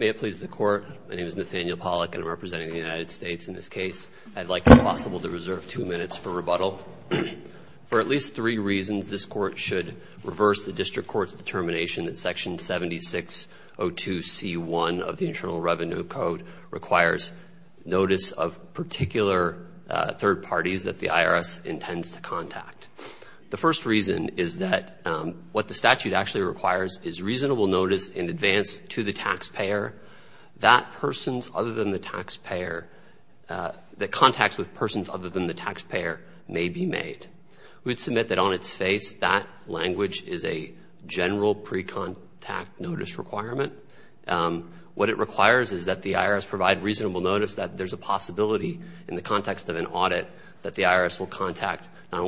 May it please the Court, my name is Nathaniel Pollack and I'm representing the United States in this case. I'd like if possible to reserve two minutes for rebuttal. For at least three reasons this Court should reverse the District Court's determination that Section 7602C1 of the Internal Revenue Code requires notice of particular third parties that the IRS intends to contact. The first reason is that what the statute actually requires is reasonable notice in advance to the taxpayer that persons other than the taxpayer that contacts with persons other than the taxpayer may be made. We'd submit that on its face that language is a general pre-contact notice requirement. What it requires is that the IRS provide reasonable notice that there's a possibility in the context of an audit that the IRS will contact not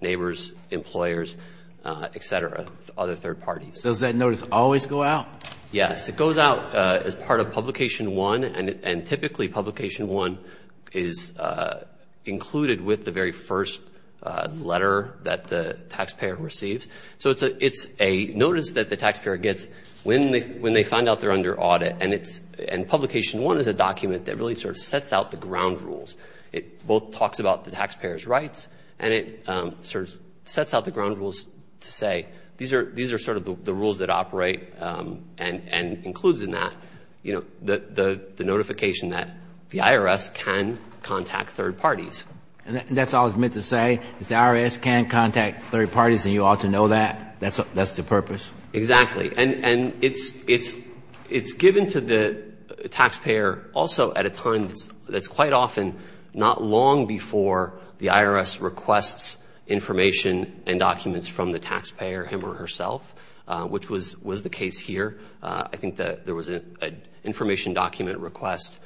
consumers, employers, etc. other third parties. Does that notice always go out? Yes, it goes out as part of Publication 1 and typically Publication 1 is included with the very first letter that the taxpayer receives. So it's a notice that the taxpayer gets when they find out they're under audit and Publication 1 is a document that really sort of sets out the ground rules. It both talks about the taxpayer's rights and it sort of sets out the ground rules to say these are sort of the rules that operate and includes in that, you know, the notification that the IRS can contact third parties. And that's all it's meant to say, is the IRS can contact third parties and you ought to know that? That's the purpose? Exactly. And it's given to the taxpayer also at a time that's quite often not long before the IRS requests information and documents from the taxpayer, him or herself, which was the case here. I think that there was an information document request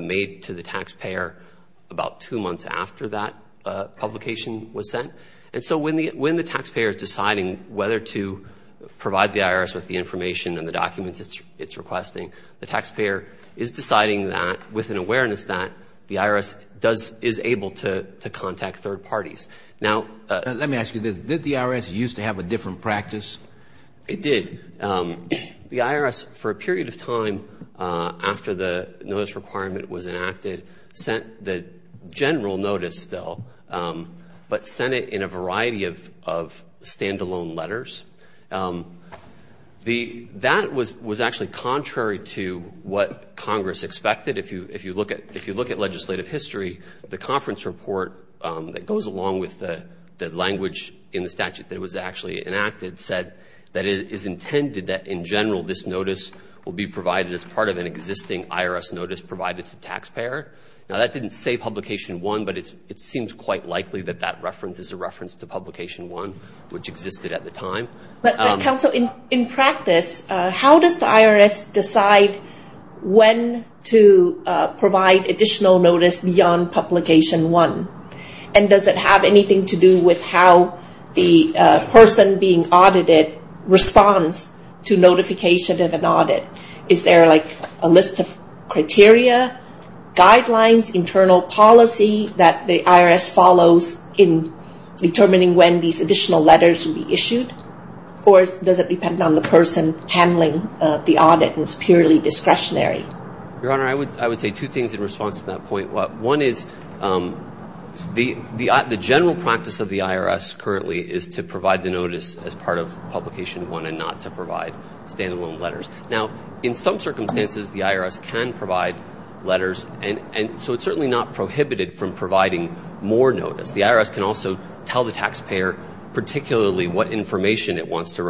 made to the taxpayer about two months after that publication was sent. And so when the taxpayer is deciding whether to provide the IRS with the information and the documents it's requesting, the taxpayer is deciding that with an awareness that the IRS is able to contact third parties. Now, let me ask you, did the IRS used to have a different practice? It did. The IRS for a period of time after the notice requirement was enacted sent the variety of stand-alone letters. That was actually contrary to what Congress expected. If you look at legislative history, the conference report that goes along with the language in the statute that was actually enacted said that it is intended that, in general, this notice will be provided as part of an existing IRS notice provided to the taxpayer. Now, that didn't say publication one, but it seems quite likely that that reference is a reference to publication one, which existed at the time. But, counsel, in practice, how does the IRS decide when to provide additional notice beyond publication one? And does it have anything to do with how the person being audited responds to notification of an audit? Is there, like, a list of criteria, guidelines, internal policy that the IRS follows in determining when these additional letters should be issued? Or does it depend on the person handling the audit and it's purely discretionary? Your Honor, I would say two things in response to that point. One is the general practice of the IRS currently is to provide the notice as part of publication one and not to provide stand-alone letters. Now, in some circumstances, the IRS can provide letters, and so it's certainly not prohibited from providing more notice. The IRS can also tell the taxpayer particularly what information it wants to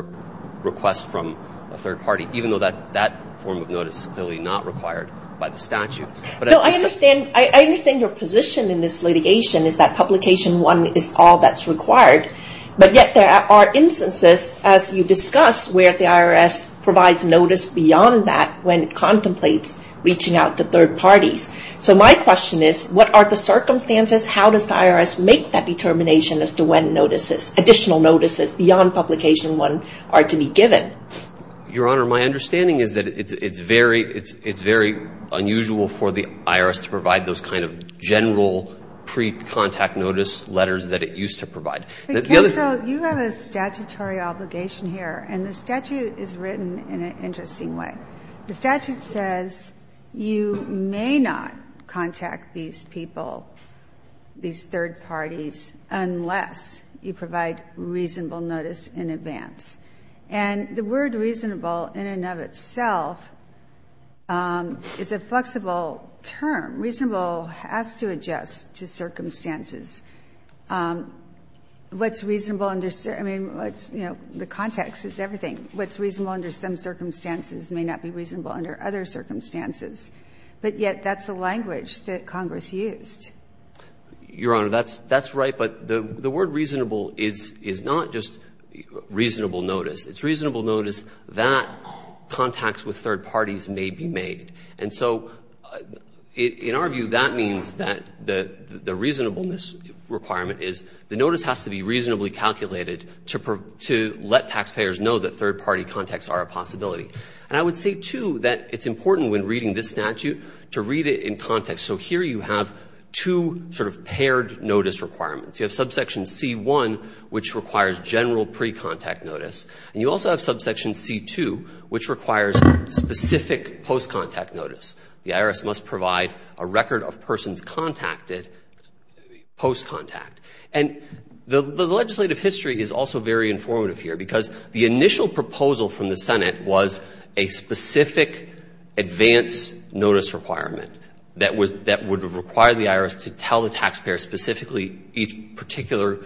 request from a third party, even though that form of notice is clearly not required by the statute. No, I understand your position in this litigation is that publication one is all that's required. But yet there are instances, as you discuss, where the IRS provides notice beyond that when it contemplates reaching out to third parties. So my question is, what are the circumstances? How does the IRS make that determination as to when additional notices beyond publication one are to be given? Your Honor, my understanding is that it's very unusual for the IRS to provide those kind of general pre-contact notice letters that it used to provide. The other thing you have a statutory obligation here, and the statute is written in an interesting way. The statute says you may not contact these people, these third parties, unless you provide reasonable notice in advance. And the reason why the word reasonable, in and of itself, is a flexible term. Reasonable has to adjust to circumstances. What's reasonable under certain – I mean, what's, you know, the context is everything. What's reasonable under some circumstances may not be reasonable under other circumstances. But yet that's the language that Congress used. Your Honor, that's right. But the word reasonable is not just reasonable notice. It's reasonable notice that contacts with third parties may be made. And so in our view, that means that the reasonableness requirement is the notice has to be reasonably calculated to let taxpayers know that third party contacts are a possibility. And I would say, too, that it's important when reading this statute to read it in context. So here you have two sort of paired notice requirements. You have subsection C-1, which requires general pre-contact notice. And you also have subsection C-2, which requires specific post-contact notice. The IRS must provide a record of persons contacted post-contact. And the legislative history is also very informative here, because the initial proposal from the Senate was a specific advance notice requirement that would require the IRS to tell the taxpayer specifically each particular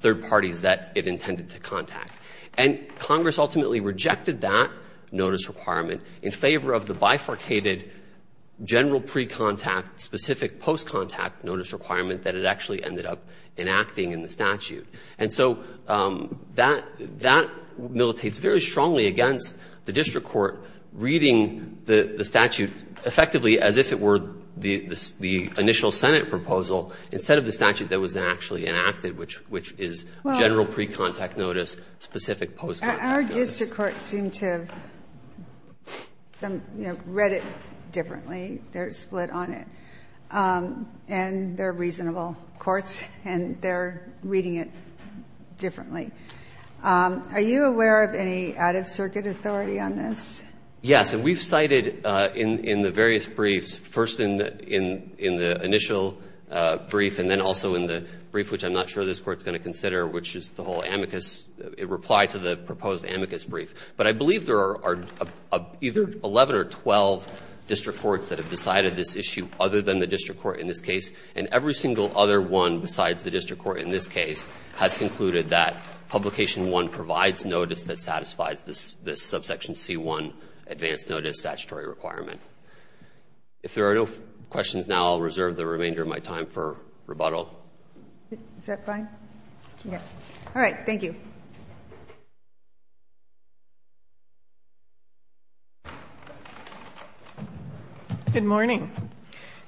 third party that it intended to contact. And Congress ultimately rejected that notice requirement in favor of the bifurcated general pre-contact specific post-contact notice requirement that it actually ended up enacting in the statute. And so that militates very strongly against the district court reading the statute effectively as if it were the initial Senate proposal instead of the statute that was actually enacted, which is general pre-contact notice specific post-contact notice. Our district courts seem to have read it differently. They're split on it. And they're reasonable courts, and they're reading it differently. Are you aware of any out-of-circuit authority on this? Yes. And we've cited in the various briefs, first in the initial brief and then also in the brief which I'm not sure this Court's going to consider, which is the whole amicus, reply to the proposed amicus brief. But I believe there are either 11 or 12 district courts that have decided this issue other than the district court in this case, and every single other one besides the district court in this case has concluded that Publication I provides notice that satisfies this subsection C-1 advanced notice statutory requirement. If there are no questions now, I'll reserve the remainder of my time for rebuttal. Is that fine? Yes. All right. Thank you. Good morning.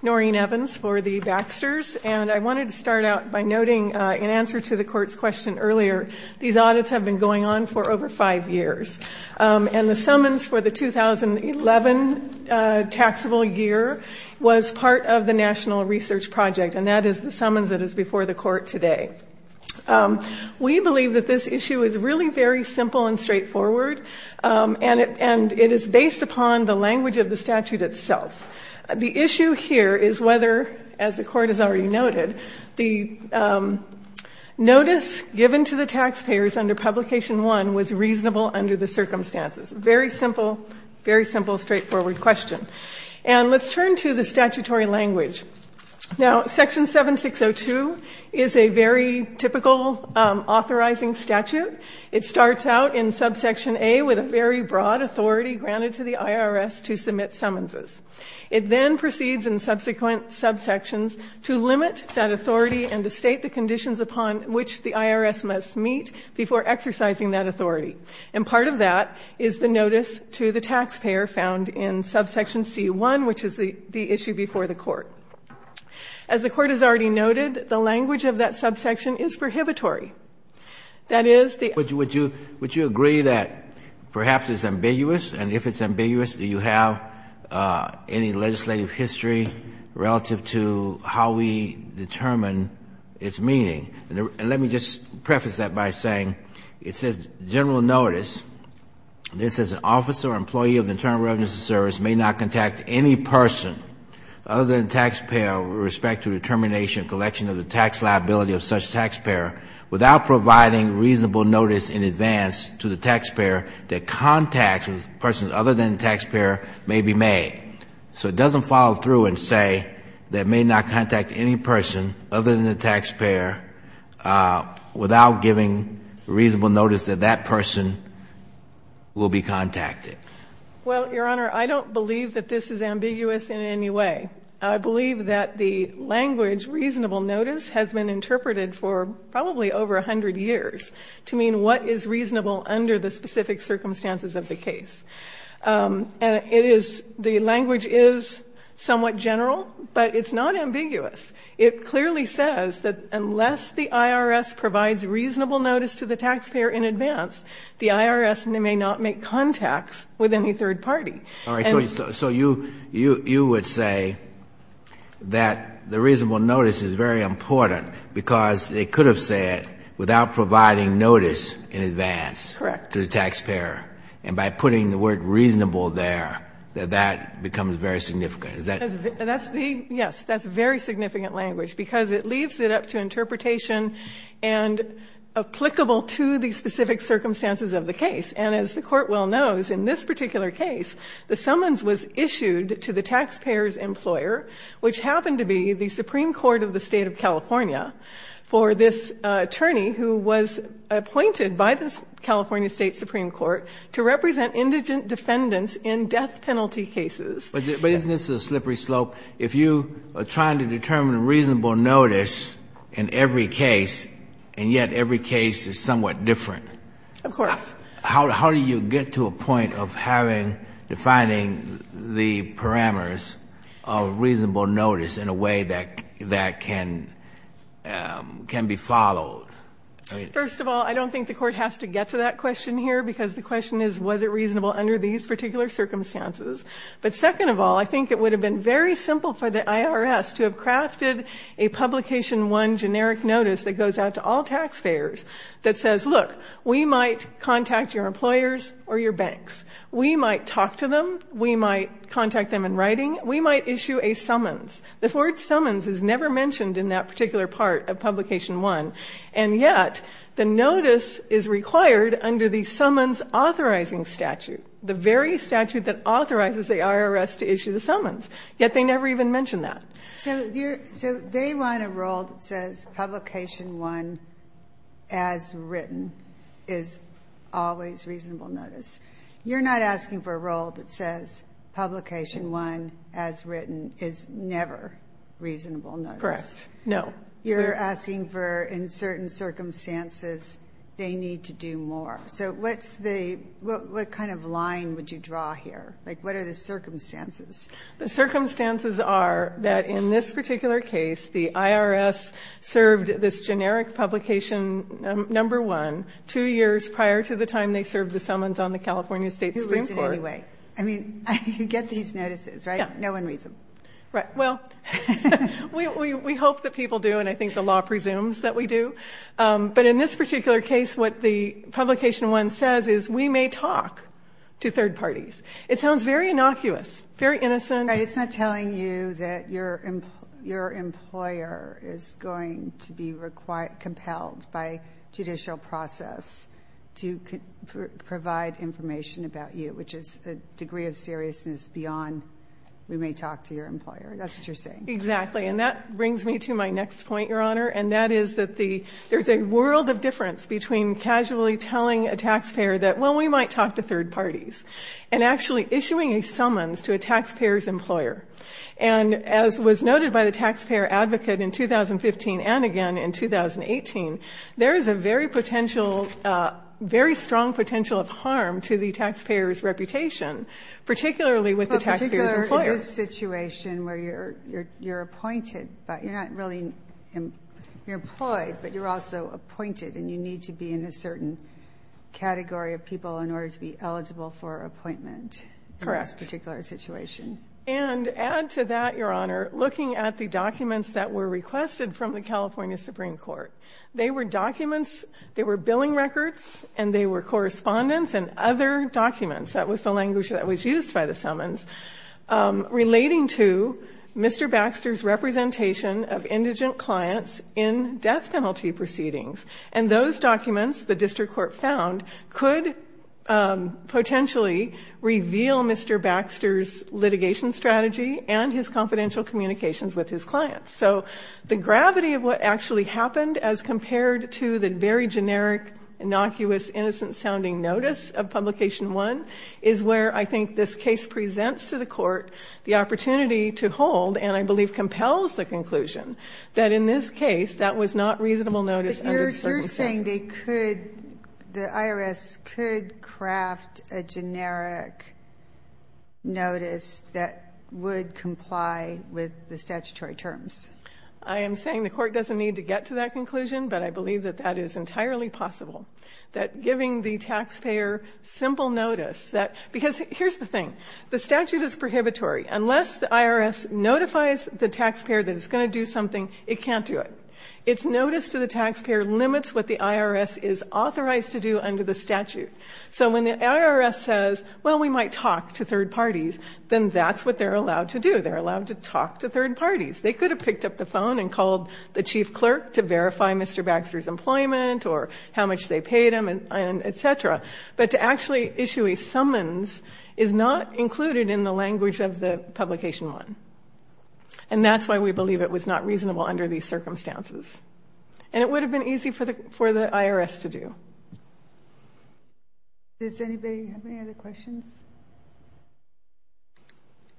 Noreen Evans for the Baxters, and I wanted to start out by noting in answer to the Court's question earlier, these audits have been going on for over five years. And the summons for the 2011 taxable year was part of the National Research Project, and that is the summons that is before the Court today. We believe that this issue is really very simple and straightforward, and it is based upon the language of the statute itself. The issue here is whether, as the Court has already noted, the notice given to the taxpayers under Publication I was reasonable under the circumstances. Very simple, very simple, straightforward question. And let's turn to the statutory language. Now, Section 7602 is a very typical authorizing statute. It starts out in subsection A with a very broad authority granted to the IRS to submit summonses. It then proceeds in subsequent subsections to limit that authority and to state the conditions upon which the IRS must meet before exercising that authority. And part of that is the notice to the taxpayer found in subsection C-1, which is the issue before the Court. As the Court has already noted, the language of that subsection is prohibitory. That is the ---- Would you agree that perhaps it's ambiguous? And if it's ambiguous, do you have any legislative history relative to how we determine its meaning? And let me just preface that by saying it says, general notice, this is an officer or employee of the Internal Revenue Service may not contact any person other than the taxpayer with respect to the termination and collection of the tax liability of such taxpayer without providing reasonable notice in advance to the taxpayer that contact with persons other than the taxpayer may be made. So it doesn't follow through and say that may not contact any person other than the taxpayer without giving reasonable notice that that person will be contacted. Well, Your Honor, I don't believe that this is ambiguous in any way. I believe that the language reasonable notice has been interpreted for probably over 100 years to mean what is reasonable under the specific circumstances of the case. And it is the language is somewhat general, but it's not ambiguous. It clearly says that unless the IRS provides reasonable notice to the taxpayer in advance, the IRS may not make contacts with any third party. And so you would say that the reasonable notice is very important because they could have said without providing notice in advance to the taxpayer. Correct. And by putting the word reasonable there, that becomes very significant. Yes, that's very significant language because it leaves it up to interpretation and applicable to the specific circumstances of the case. And as the Court well knows, in this particular case, the summons was issued to the taxpayer's employer, which happened to be the Supreme Court of the State of California, for this Court, to represent indigent defendants in death penalty cases. But isn't this a slippery slope? If you are trying to determine reasonable notice in every case, and yet every case is somewhat different, how do you get to a point of having, defining the parameters of reasonable notice in a way that can be followed? First of all, I don't think the Court has to get to that question here because the question is was it reasonable under these particular circumstances. But second of all, I think it would have been very simple for the IRS to have crafted a Publication I generic notice that goes out to all taxpayers that says, look, we might contact your employers or your banks. We might talk to them. We might contact them in writing. We might issue a summons. The word summons is never mentioned in that particular part of Publication I, and yet the notice is required under the summons authorizing statute, the very statute that authorizes the IRS to issue the summons, yet they never even mention that. So they want a rule that says Publication I as written is always reasonable notice. You're not asking for a rule that says Publication I as written is never reasonable notice. Correct. No. You're asking for, in certain circumstances, they need to do more. So what's the, what kind of line would you draw here? Like, what are the circumstances? The circumstances are that in this particular case, the IRS served this generic Publication number one two years prior to the time they served the summons on the California State Who reads it anyway? I mean, you get these notices, right? No one reads them. Right. Well, we hope that people do, and I think the law presumes that we do. But in this particular case, what the Publication I says is we may talk to third parties. It sounds very innocuous, very innocent. But it's not telling you that your employer is going to be compelled by judicial process to provide information about you, which is a degree of seriousness beyond we may talk to your employer. That's what you're saying. Exactly. And that brings me to my next point, Your Honor, and that is that there's a world of difference between casually telling a taxpayer that, well, we might talk to third parties, and actually issuing a summons to a taxpayer's employer. And as was noted by the taxpayer advocate in 2015 and again in 2018, there is a very potential, very strong potential of harm to the taxpayer's reputation, particularly with the taxpayer's employer. But particularly in this situation where you're appointed, but you're not really, you're employed, but you're also appointed and you need to be in a certain category of people in order to be eligible for appointment in this particular situation. And add to that, Your Honor, looking at the documents that were requested from the California Supreme Court, they were documents, they were billing records, and they were correspondence and other documents. That was the language that was used by the summons relating to Mr. Baxter's representation of indigent clients in death penalty proceedings. And those documents, the district court found, could potentially reveal Mr. Baxter's litigation strategy and his confidential communications with his clients. So the gravity of what actually happened as compared to the very generic, innocuous, innocent-sounding notice of Publication 1 is where I think this case presents to the court the opportunity to hold, and I believe compels the conclusion, that in this case, that was not reasonable notice under the circumstances. But you're saying they could, the IRS could craft a generic notice that would comply with the statutory terms? I am saying the court doesn't need to get to that conclusion, but I believe that that is entirely possible. That giving the taxpayer simple notice, that, because here's the thing. The statute is prohibitory. Unless the IRS notifies the taxpayer that it's going to do something, it can't do it. It's notice to the taxpayer limits what the IRS is authorized to do under the statute. So when the IRS says, well, we might talk to third parties, then that's what they're allowed to do. They're allowed to talk to third parties. They could have picked up the phone and called the chief clerk to verify Mr. Baxter's employment or how much they paid him and et cetera. But to actually issue a summons is not included in the language of the Publication 1. And that's why we believe it was not reasonable under these circumstances. And it would have been easy for the IRS to do. Does anybody have any other questions?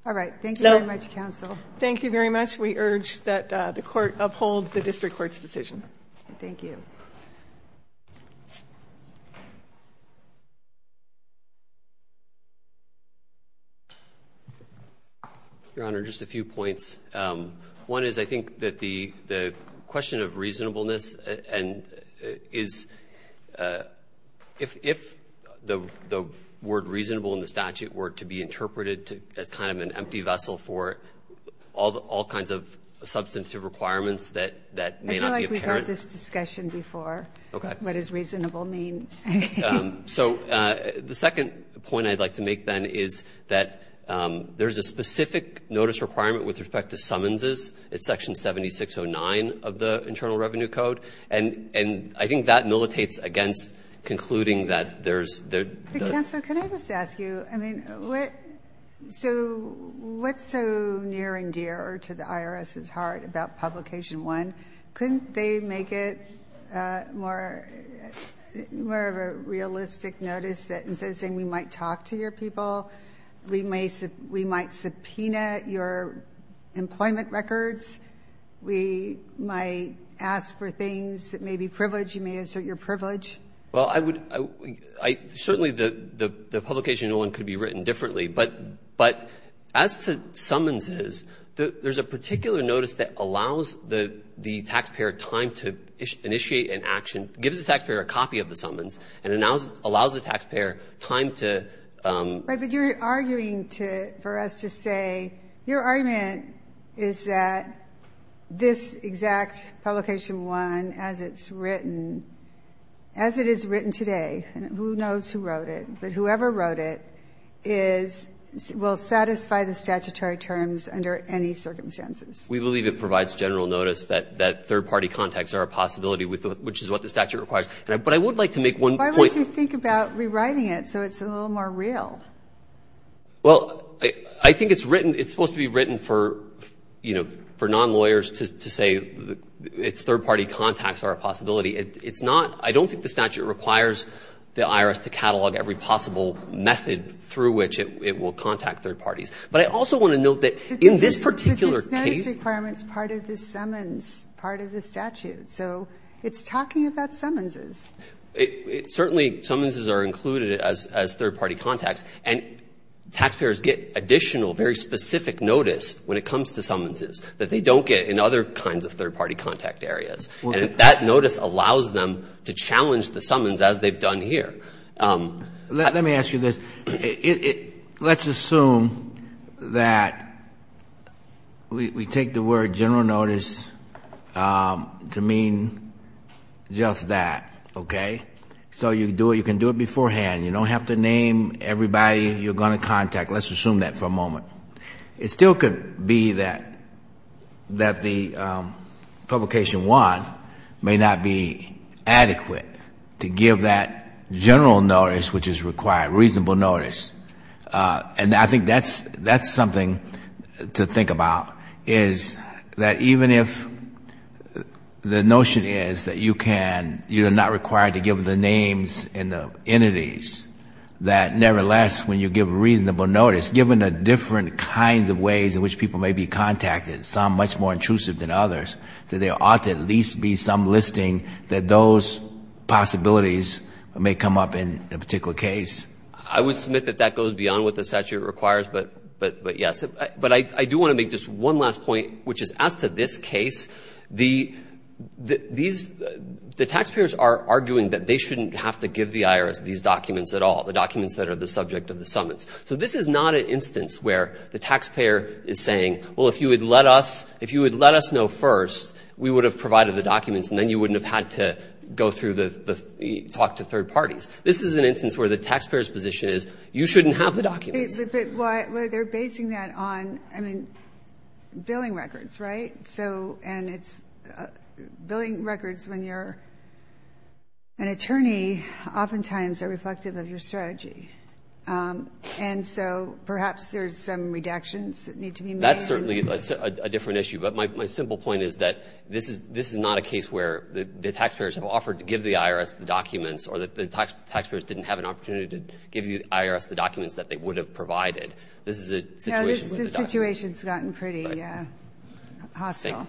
All right. Thank you very much, counsel. Thank you very much. We urge that the court uphold the district court's decision. Thank you. Your Honor, just a few points. One is I think that the question of reasonableness and is if the word reasonable in the statute were to be interpreted as kind of an empty vessel for all kinds of substantive requirements that may not be apparent. We've had this discussion before. What does reasonable mean? So the second point I'd like to make then is that there's a specific notice requirement with respect to summonses. It's section 7609 of the Internal Revenue Code. And I think that militates against concluding that there's... Counsel, can I just ask you, I mean, what's so near and dear to the IRS's heart about Publication 1? Couldn't they make it more of a realistic notice that instead of saying, we might talk to your people, we might subpoena your employment records, we might ask for things that may be privileged, you may assert your privilege? Well, I would... Certainly the Publication 1 could be written differently, but as to summonses, there's a particular notice that allows the taxpayer time to initiate an action, gives the taxpayer a copy of the summons, and allows the taxpayer time to... Right. But you're arguing for us to say your argument is that this exact Publication 1, as it's written, as it is written today, and who knows who wrote it, but whoever wrote it will satisfy the statutory terms under any circumstances. We believe it provides general notice that third-party contacts are a possibility, which is what the statute requires. But I would like to make one point... Why don't you think about rewriting it so it's a little more real? Well, I think it's written, it's supposed to be written for non-lawyers to say third-party contacts are a possibility. It's not... I don't think the statute requires the IRS to catalog every possible method through which it will contact third parties. But I also want to note that in this particular case... But this notice requirement is part of the summons, part of the statute. So it's talking about summonses. Certainly summonses are included as third-party contacts, and taxpayers get additional, very specific notice when it comes to summonses that they don't get in other kinds of third-party contact areas. And that notice allows them to challenge the summons as they've done here. Let me ask you this. Let's assume that we take the word general notice to mean just that, okay? So you can do it beforehand. You don't have to name everybody you're going to contact. Let's assume that for a moment. It still could be that the publication one may not be adequate to give that general notice which is required, reasonable notice. And I think that's something to think about, is that even if the notion is that you can... You're not required to give the names and the entities, that nevertheless when you give a reasonable notice, given the different kinds of ways in which people may be contacted, some much more intrusive than others, that there ought to at least be some listing that those possibilities may come up in a particular case. I would submit that that goes beyond what the statute requires, but yes. But I do want to make just one last point, which is as to this case, the taxpayers are arguing that they shouldn't have to give the IRS these documents at all, the documents that are the subject of the summons. So this is not an instance where the taxpayer is saying, well, if you had let us know first, we would have provided the documents and then you wouldn't have had to go through the talk to third parties. This is an instance where the taxpayer's position is, you shouldn't have the documents. But they're basing that on, I mean, billing records, right? So, and it's billing records when you're an attorney, oftentimes are reflective of your strategy. And so perhaps there's some redactions that need to be made. That's certainly a different issue. But my simple point is that this is not a case where the taxpayers have offered to give the IRS the documents or the taxpayers didn't have an opportunity to give the IRS the documents that they would have provided. This is a situation with the documents. No, this situation's gotten pretty hostile.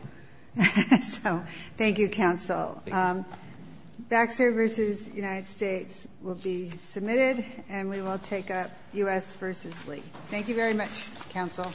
Thank you. So, thank you, counsel. Baxter v. United States will be submitted and we will take up U.S. v. Lee. Thank you very much, counsel.